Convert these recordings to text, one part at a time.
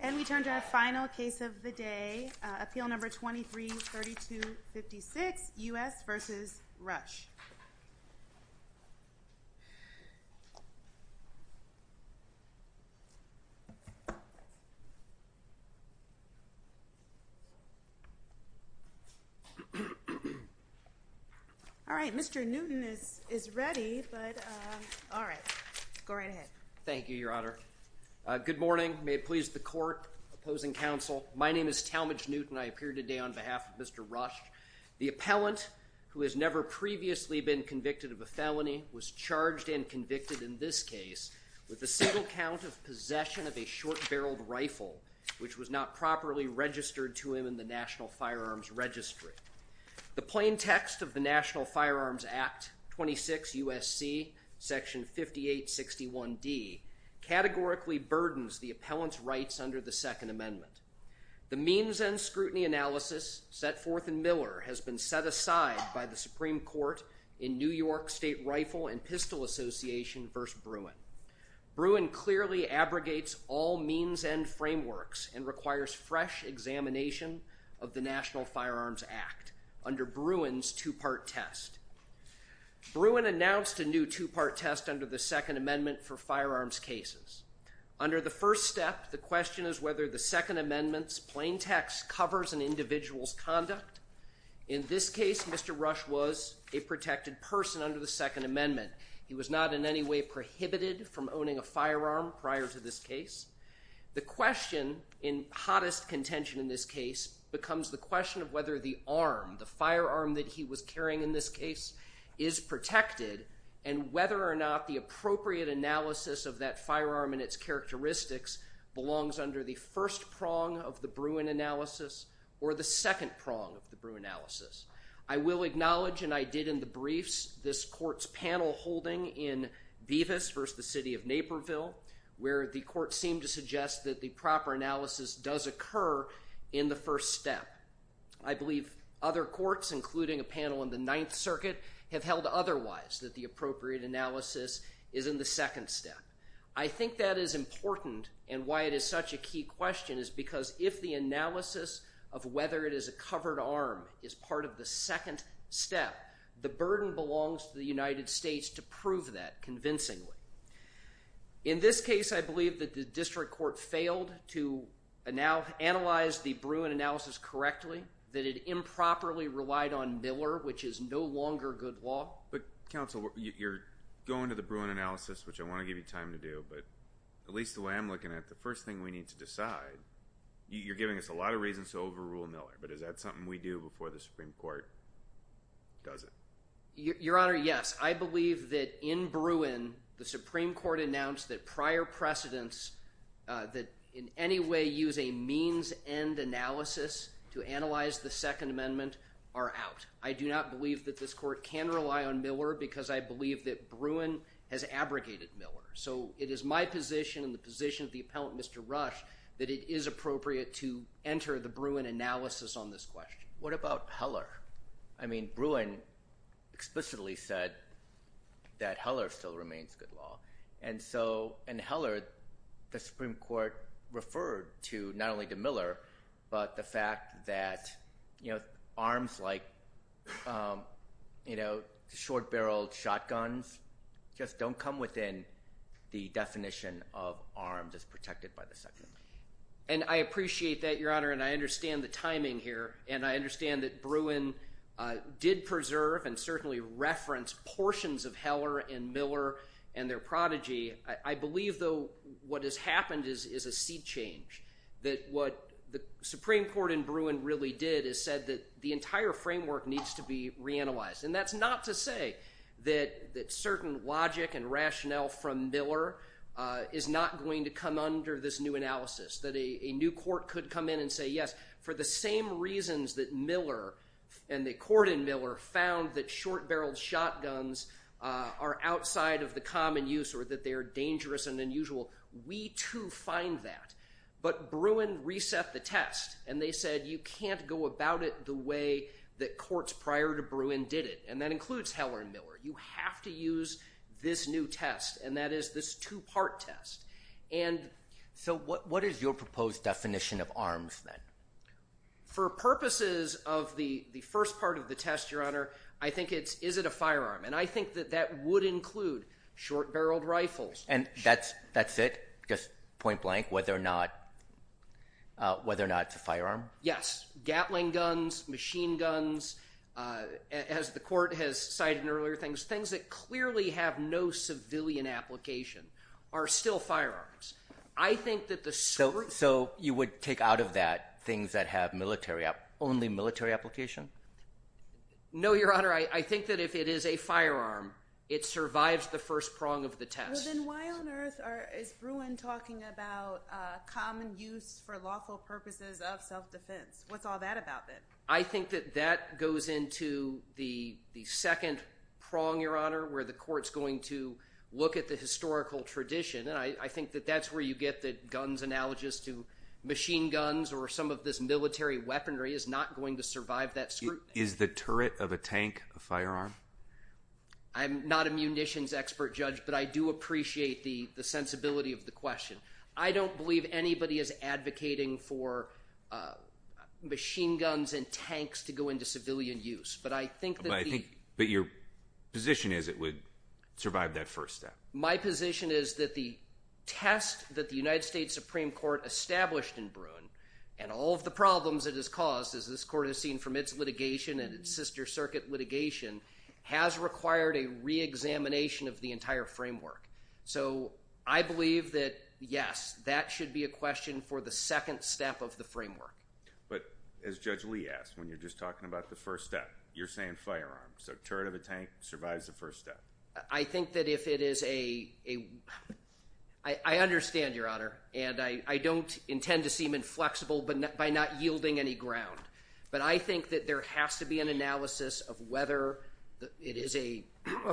And we turn to our final case of the day, Appeal No. 23-3256, U.S. v. Rush. All right, Mr. Newton is ready, but all right, go right ahead. Thank you, Your Honor. Good morning. May it please the court, opposing counsel, my name is Talmadge Newton. I appear today on behalf of Mr. Rush. The appellant, who has never previously been convicted of a felony, was charged and convicted in this case with the single count of possession of a short-barreled rifle, which was not properly registered to him in the National Firearms Registry. The plain text of the National Firearms Act, 26 U.S.C., Section 5861D, categorically burdens the appellant's rights under the Second Amendment. The means-end scrutiny analysis set forth in Miller has been set aside by the Supreme Court in New York State Rifle and Pistol Association v. Bruin. Bruin clearly abrogates all means-end frameworks and requires fresh examination of the National Firearms Act under Bruin's two-part test. Bruin announced a new two-part test under the Second Amendment for firearms cases. Under the first step, the question is whether the Second Amendment's plain text covers an individual's conduct. In this case, Mr. Rush was a protected person under the Second Amendment. He was not in any way prohibited from owning a firearm prior to this case. The question, in hottest contention in this case, becomes the question of whether the arm, the firearm that he was carrying in this case, is protected, and whether or not the appropriate analysis of that firearm and its characteristics belongs under the first prong of the Bruin analysis or the second prong of the Bruin analysis. I will acknowledge, and I did in the briefs, this court's panel holding in Bevis v. the City of Naperville, where the court seemed to suggest that the proper analysis does occur in the first step. I believe other courts, including a panel in the Ninth Circuit, have held otherwise, that the appropriate analysis is in the second step. I think that is important, and why it is such a key question is because if the analysis of whether it is a covered arm is part of the second step, the burden belongs to the United States to prove that convincingly. In this case, I believe that the district court failed to analyze the Bruin analysis correctly, that it improperly relied on Miller, which is no longer good law. But counsel, you're going to the Bruin analysis, which I want to give you time to do, but at least the way I'm looking at it, the first thing we need to decide, you're giving us a lot of reasons to overrule Miller, but is that something we do before the Supreme Court does it? Your Honor, yes. I believe that in Bruin, the Supreme Court announced that prior precedents that in any way use a means-end analysis to analyze the Second Amendment are out. I do not believe that this court can rely on Miller because I believe that Bruin has abrogated Miller. So it is my position and the position of the appellant, Mr. Rush, that it is appropriate to enter the Bruin analysis on this question. What about Heller? I mean Bruin explicitly said that Heller still remains good law. And so in Heller, the Supreme Court referred to not only to Miller, but the fact that arms like short-barreled shotguns just don't come within the definition of arms as protected by the Second Amendment. And I appreciate that, Your Honor, and I understand the timing here, and I understand that Bruin did preserve and certainly reference portions of Heller and Miller and their prodigy. I believe, though, what has happened is a seed change, that what the Supreme Court in Bruin really did is said that the entire framework needs to be reanalyzed. And that's not to say that certain logic and rationale from Miller is not going to come under this new analysis, that a new court could come in and say yes. For the same reasons that Miller and the court in Miller found that short-barreled shotguns are outside of the common use or that they are dangerous and unusual, we too find that. But Bruin reset the test, and they said you can't go about it the way that courts prior to Bruin did it, and that includes Heller and Miller. You have to use this new test, and that is this two-part test. And so what is your proposed definition of arms then? For purposes of the first part of the test, Your Honor, I think it's, is it a firearm? And I think that that would include short-barreled rifles. And that's it, just point blank, whether or not, whether or not it's a firearm? Yes. Gatling guns, machine guns, as the court has cited in earlier things, things that clearly have no civilian application are still firearms. I think that the… So you would take out of that things that have military, only military application? No, Your Honor, I think that if it is a firearm, it survives the first prong of the test. Well, then why on earth is Bruin talking about common use for lawful purposes of self-defense? What's all that about then? I think that that goes into the second prong, Your Honor, where the court's going to look at the historical tradition. And I think that that's where you get the guns analogous to machine guns or some of this military weaponry is not going to survive that scrutiny. Is the turret of a tank a firearm? I'm not a munitions expert, Judge, but I do appreciate the sensibility of the question. I don't believe anybody is advocating for machine guns and tanks to go into civilian use. But I think that the… But your position is it would survive that first step. My position is that the test that the United States Supreme Court established in Bruin and all of the problems it has caused, as this court has seen from its litigation and its sister circuit litigation, has required a reexamination of the entire framework. So I believe that, yes, that should be a question for the second step of the framework. But as Judge Lee asked, when you're just talking about the first step, you're saying firearms. So turret of a tank survives the first step. I think that if it is a – I understand, Your Honor, and I don't intend to seem inflexible by not yielding any ground. But I think that there has to be an analysis of whether it is a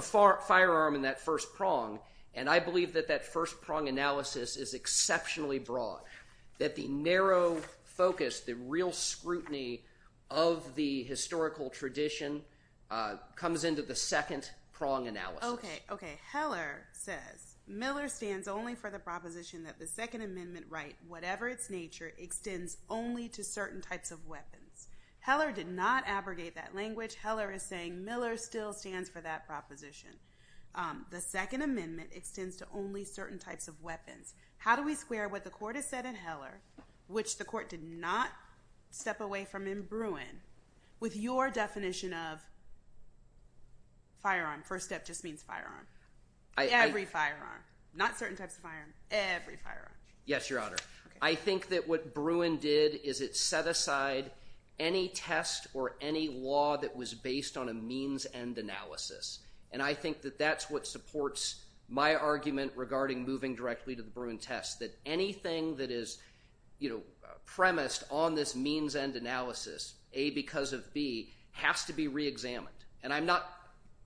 firearm in that first prong. And I believe that that first prong analysis is exceptionally broad, that the narrow focus, the real scrutiny of the historical tradition comes into the second prong analysis. Okay. Heller says, Miller stands only for the proposition that the Second Amendment right, whatever its nature, extends only to certain types of weapons. Heller did not abrogate that language. Heller is saying Miller still stands for that proposition. The Second Amendment extends to only certain types of weapons. How do we square what the court has said in Heller, which the court did not step away from in Bruin, with your definition of firearm? First step just means firearm. Every firearm. Not certain types of firearm. Every firearm. Yes, Your Honor. I think that what Bruin did is it set aside any test or any law that was based on a means-end analysis. And I think that that's what supports my argument regarding moving directly to the Bruin test, that anything that is, you know, premised on this means-end analysis, A, because of B, has to be reexamined. And I'm not…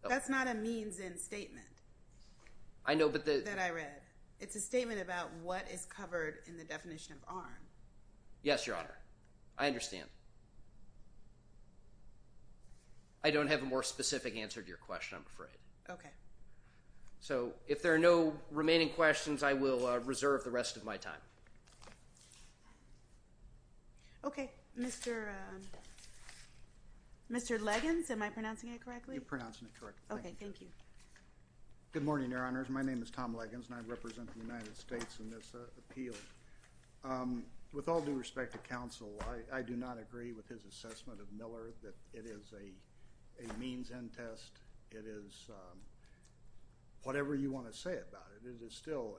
That's not a means-end statement. I know, but the… That I read. It's a statement about what is covered in the definition of arm. Yes, Your Honor. I understand. I don't have a more specific answer to your question, I'm afraid. Okay. So if there are no remaining questions, I will reserve the rest of my time. Okay. Mr. Leggins, am I pronouncing it correctly? You're pronouncing it correctly. Okay. Thank you. Good morning, Your Honors. My name is Tom Leggins, and I represent the United States in this appeal. With all due respect to counsel, I do not agree with his assessment of Miller that it is a means-end test. It is whatever you want to say about it. It is still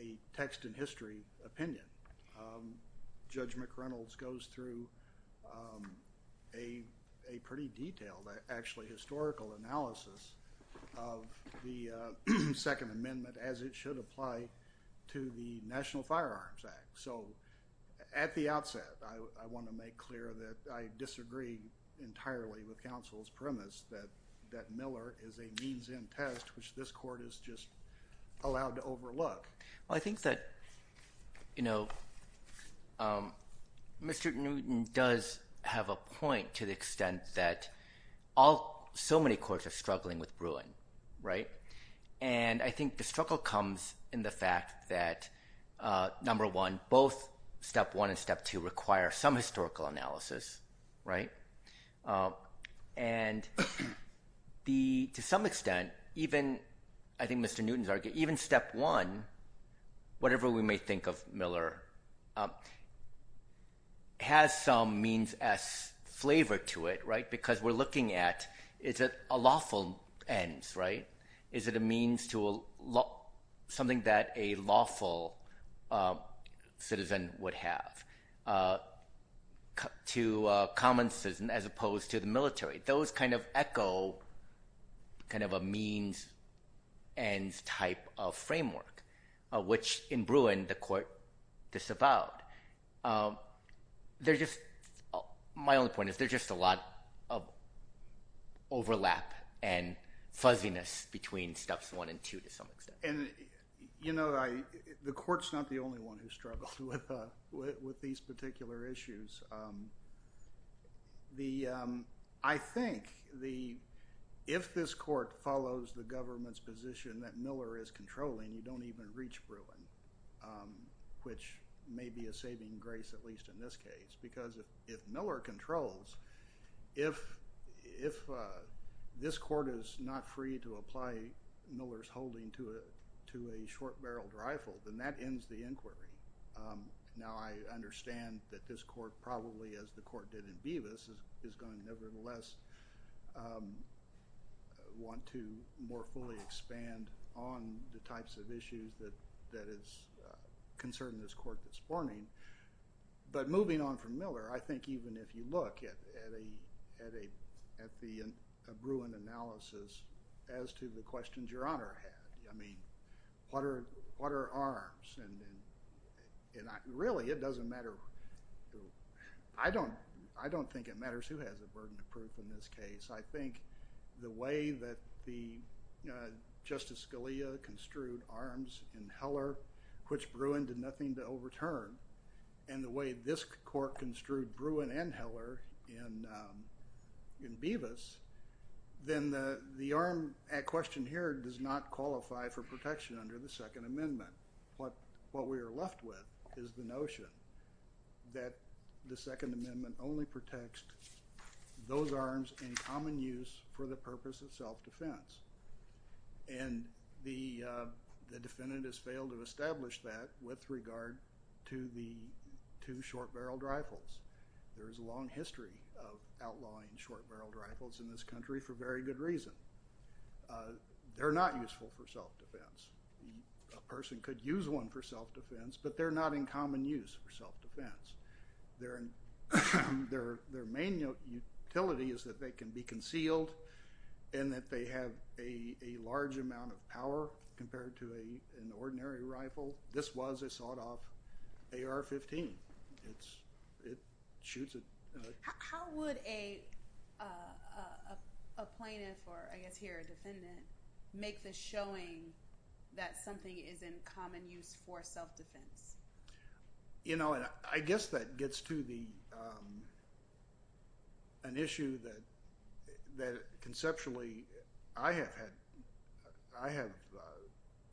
a text-in-history opinion. Judge McReynolds goes through a pretty detailed, actually, historical analysis of the Second Amendment as it should apply to the National Firearms Act. So at the outset, I want to make clear that I disagree entirely with counsel's premise that Miller is a means-end test, which this Court is just allowed to overlook. Well, I think that, you know, Mr. Newton does have a point to the extent that so many courts are struggling with brewing, right? And I think the struggle comes in the fact that, number one, both Step 1 and Step 2 require some historical analysis, right? And to some extent, even, I think Mr. Newton's argument, even Step 1, whatever we may think of Miller, has some means-s flavor to it, right? Because we're looking at is it a lawful ends, right? Is it a means to something that a lawful citizen would have to a common citizen as opposed to the military? Those kind of echo kind of a means-ends type of framework, which in Bruin the Court disavowed. They're just – my only point is there's just a lot of overlap and fuzziness between Steps 1 and 2 to some extent. And, you know, the Court's not the only one who struggles with these particular issues. The – I think the – if this Court follows the government's position that Miller is controlling, you don't even reach Bruin, which may be a saving grace, at least in this case, because if Miller controls, if this Court is not free to apply Miller's holding to a short-barreled rifle, then that ends the inquiry. Now, I understand that this Court probably, as the Court did in Bevis, is going to nevertheless want to more fully expand on the types of issues that is concerning this Court this morning. But moving on from Miller, I think even if you look at a Bruin analysis as to the questions Your Honor had, I mean, what are arms? And really, it doesn't matter – I don't think it matters who has a burden of proof in this case. I think the way that Justice Scalia construed arms in Heller, which Bruin did nothing to overturn, and the way this Court construed Bruin and Heller in Bevis, then the arm at question here does not qualify for protection under the Second Amendment. What we are left with is the notion that the Second Amendment only protects those arms in common use for the purpose of self-defense. And the defendant has failed to establish that with regard to the two short-barreled rifles. There is a long history of outlawing short-barreled rifles in this country for very good reason. They're not useful for self-defense. A person could use one for self-defense, but they're not in common use for self-defense. Their main utility is that they can be concealed and that they have a large amount of power compared to an ordinary rifle. This was a sawed-off AR-15. It shoots at – How would a plaintiff, or I guess here a defendant, make the showing that something is in common use for self-defense? I guess that gets to an issue that conceptually I have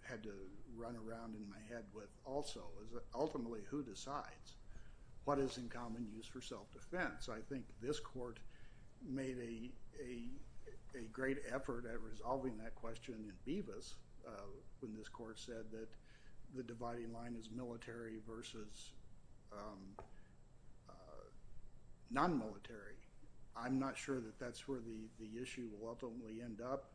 had to run around in my head with also, is that ultimately who decides what is in common use for self-defense? I think this court made a great effort at resolving that question in Bevis when this court said that the dividing line is military versus non-military. I'm not sure that that's where the issue will ultimately end up.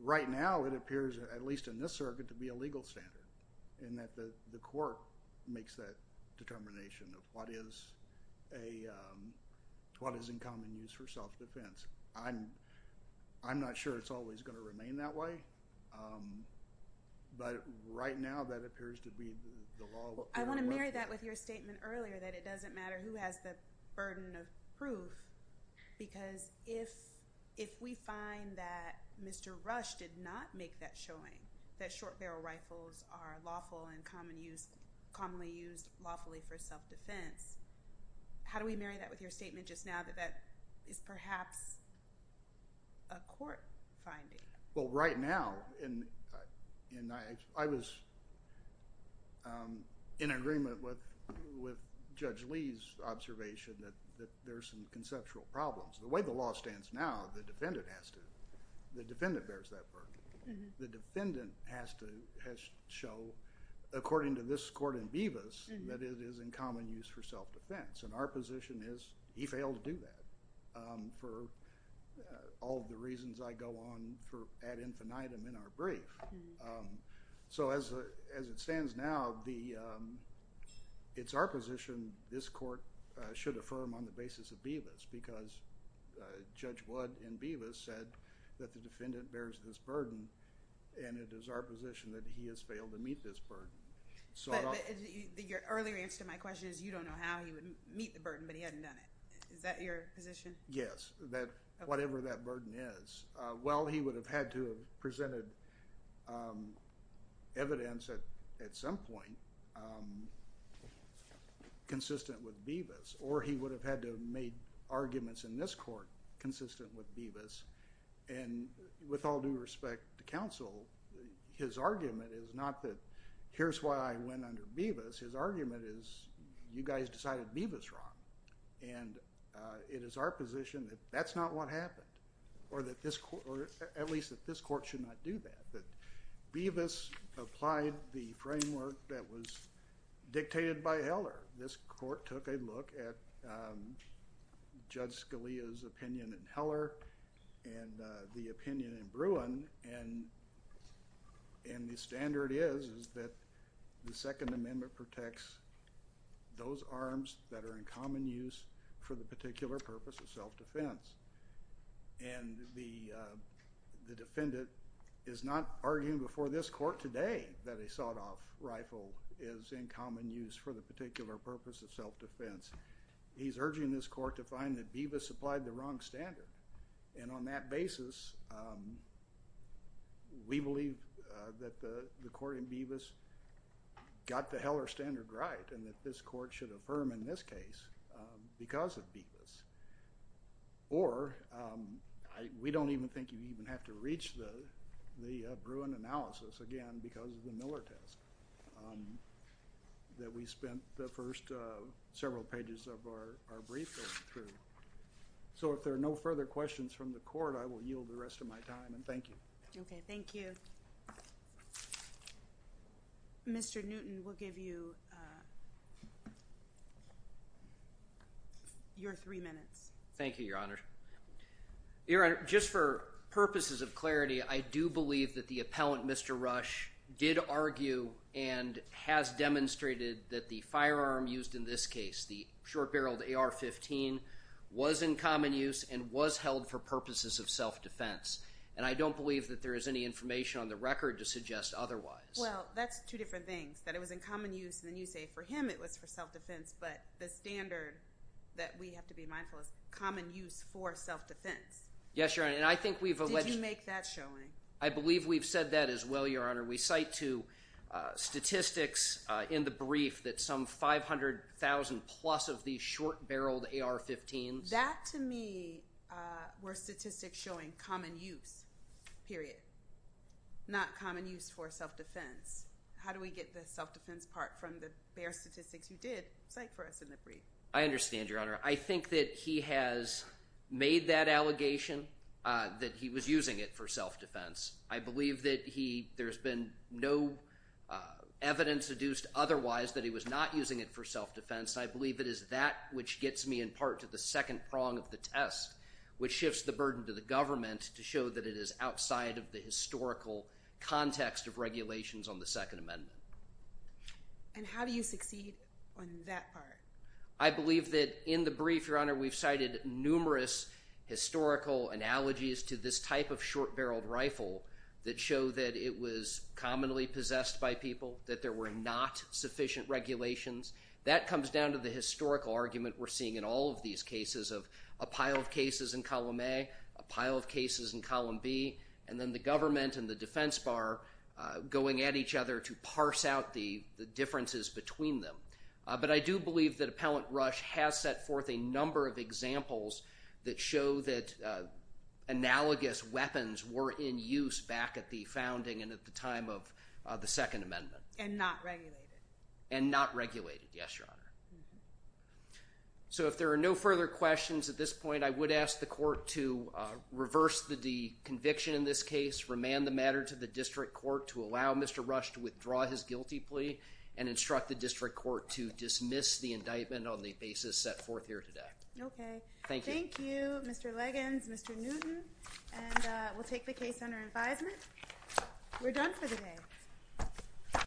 Right now it appears, at least in this circuit, to be a legal standard in that the court makes that determination of what is in common use for self-defense. I'm not sure it's always going to remain that way, but right now that appears to be the law. I want to marry that with your statement earlier that it doesn't matter who has the burden of proof because if we find that Mr. Rush did not make that showing that short barrel rifles are lawful and commonly used lawfully for self-defense, how do we marry that with your statement just now that that is perhaps a court finding? Well, right now, I was in agreement with Judge Lee's observation that there are some conceptual problems. The way the law stands now, the defendant has to... the defendant bears that burden. The defendant has to show, according to this court in Bevis, that it is in common use for self-defense. And our position is he failed to do that for all of the reasons I go on for ad infinitum in our brief. So as it stands now, it's our position this court should affirm on the basis of Bevis because Judge Wood in Bevis said that the defendant bears this burden and it is our position that he has failed to meet this burden. But your earlier answer to my question is you don't know how he would meet the burden, but he hadn't done it. Is that your position? Yes, that whatever that burden is. Well, he would have had to have presented evidence at some point consistent with Bevis or he would have had to have made arguments in this court consistent with Bevis. And with all due respect to counsel, his argument is not that here's why I went under Bevis. His argument is you guys decided Bevis wrong and it is our position that that's not what happened or at least that this court should not do that. Bevis applied the framework that was dictated by Heller. This court took a look at Judge Scalia's opinion in Heller and the opinion in Bruin and the standard is that the Second Amendment protects those arms that are in common use for the particular purpose of self-defense. And the defendant is not arguing before this court today that a sawed-off rifle is in common use for the particular purpose of self-defense. He's urging this court to find that Bevis applied the wrong standard. And on that basis, we believe that the court in Bevis got the Heller standard right and that this court should affirm in this case because of Bevis. Or we don't even think you even have to reach the Bruin analysis again because of the Miller test that we spent the first several pages of our brief going through. So if there are no further questions from the court, I will yield the rest of my time and thank you. Okay, thank you. Mr. Newton, we'll give you your three minutes. Thank you, Your Honor. Your Honor, just for purposes of clarity, I do believe that the appellant, Mr. Rush, did argue and has demonstrated that the firearm used in this case, the short-barreled AR-15, was in common use and was held for purposes of self-defense. And I don't believe that there is any information on the record to suggest otherwise. Well, that's two different things, that it was in common use and then you say for him it was for self-defense, but the standard that we have to be mindful of is common use for self-defense. Yes, Your Honor, and I think we've alleged… Did you make that showing? I believe we've said that as well, Your Honor. We cite to statistics in the brief that some 500,000-plus of these short-barreled AR-15s… That, to me, were statistics showing common use, period, not common use for self-defense. How do we get the self-defense part from the bare statistics you did cite for us in the brief? I understand, Your Honor. I think that he has made that allegation that he was using it for self-defense. I believe that there's been no evidence deduced otherwise that he was not using it for self-defense. I believe it is that which gets me in part to the second prong of the test, which shifts the burden to the government to show that it is outside of the historical context of regulations on the Second Amendment. And how do you succeed on that part? I believe that in the brief, Your Honor, we've cited numerous historical analogies to this type of short-barreled rifle that show that it was commonly possessed by people, that there were not sufficient regulations. That comes down to the historical argument we're seeing in all of these cases of a pile of cases in column A, a pile of cases in column B, and then the government and the defense bar going at each other to parse out the differences between them. But I do believe that Appellant Rush has set forth a number of examples that show that analogous weapons were in use back at the founding and at the time of the Second Amendment. And not regulated. And not regulated, yes, Your Honor. So if there are no further questions at this point, I would ask the court to reverse the conviction in this case, remand the matter to the district court to allow Mr. Rush to withdraw his guilty plea, and instruct the district court to dismiss the indictment on the basis set forth here today. Okay. Thank you. Thank you, Mr. Leggins, Mr. Newton. And we'll take the case under advisement. We're done for the day.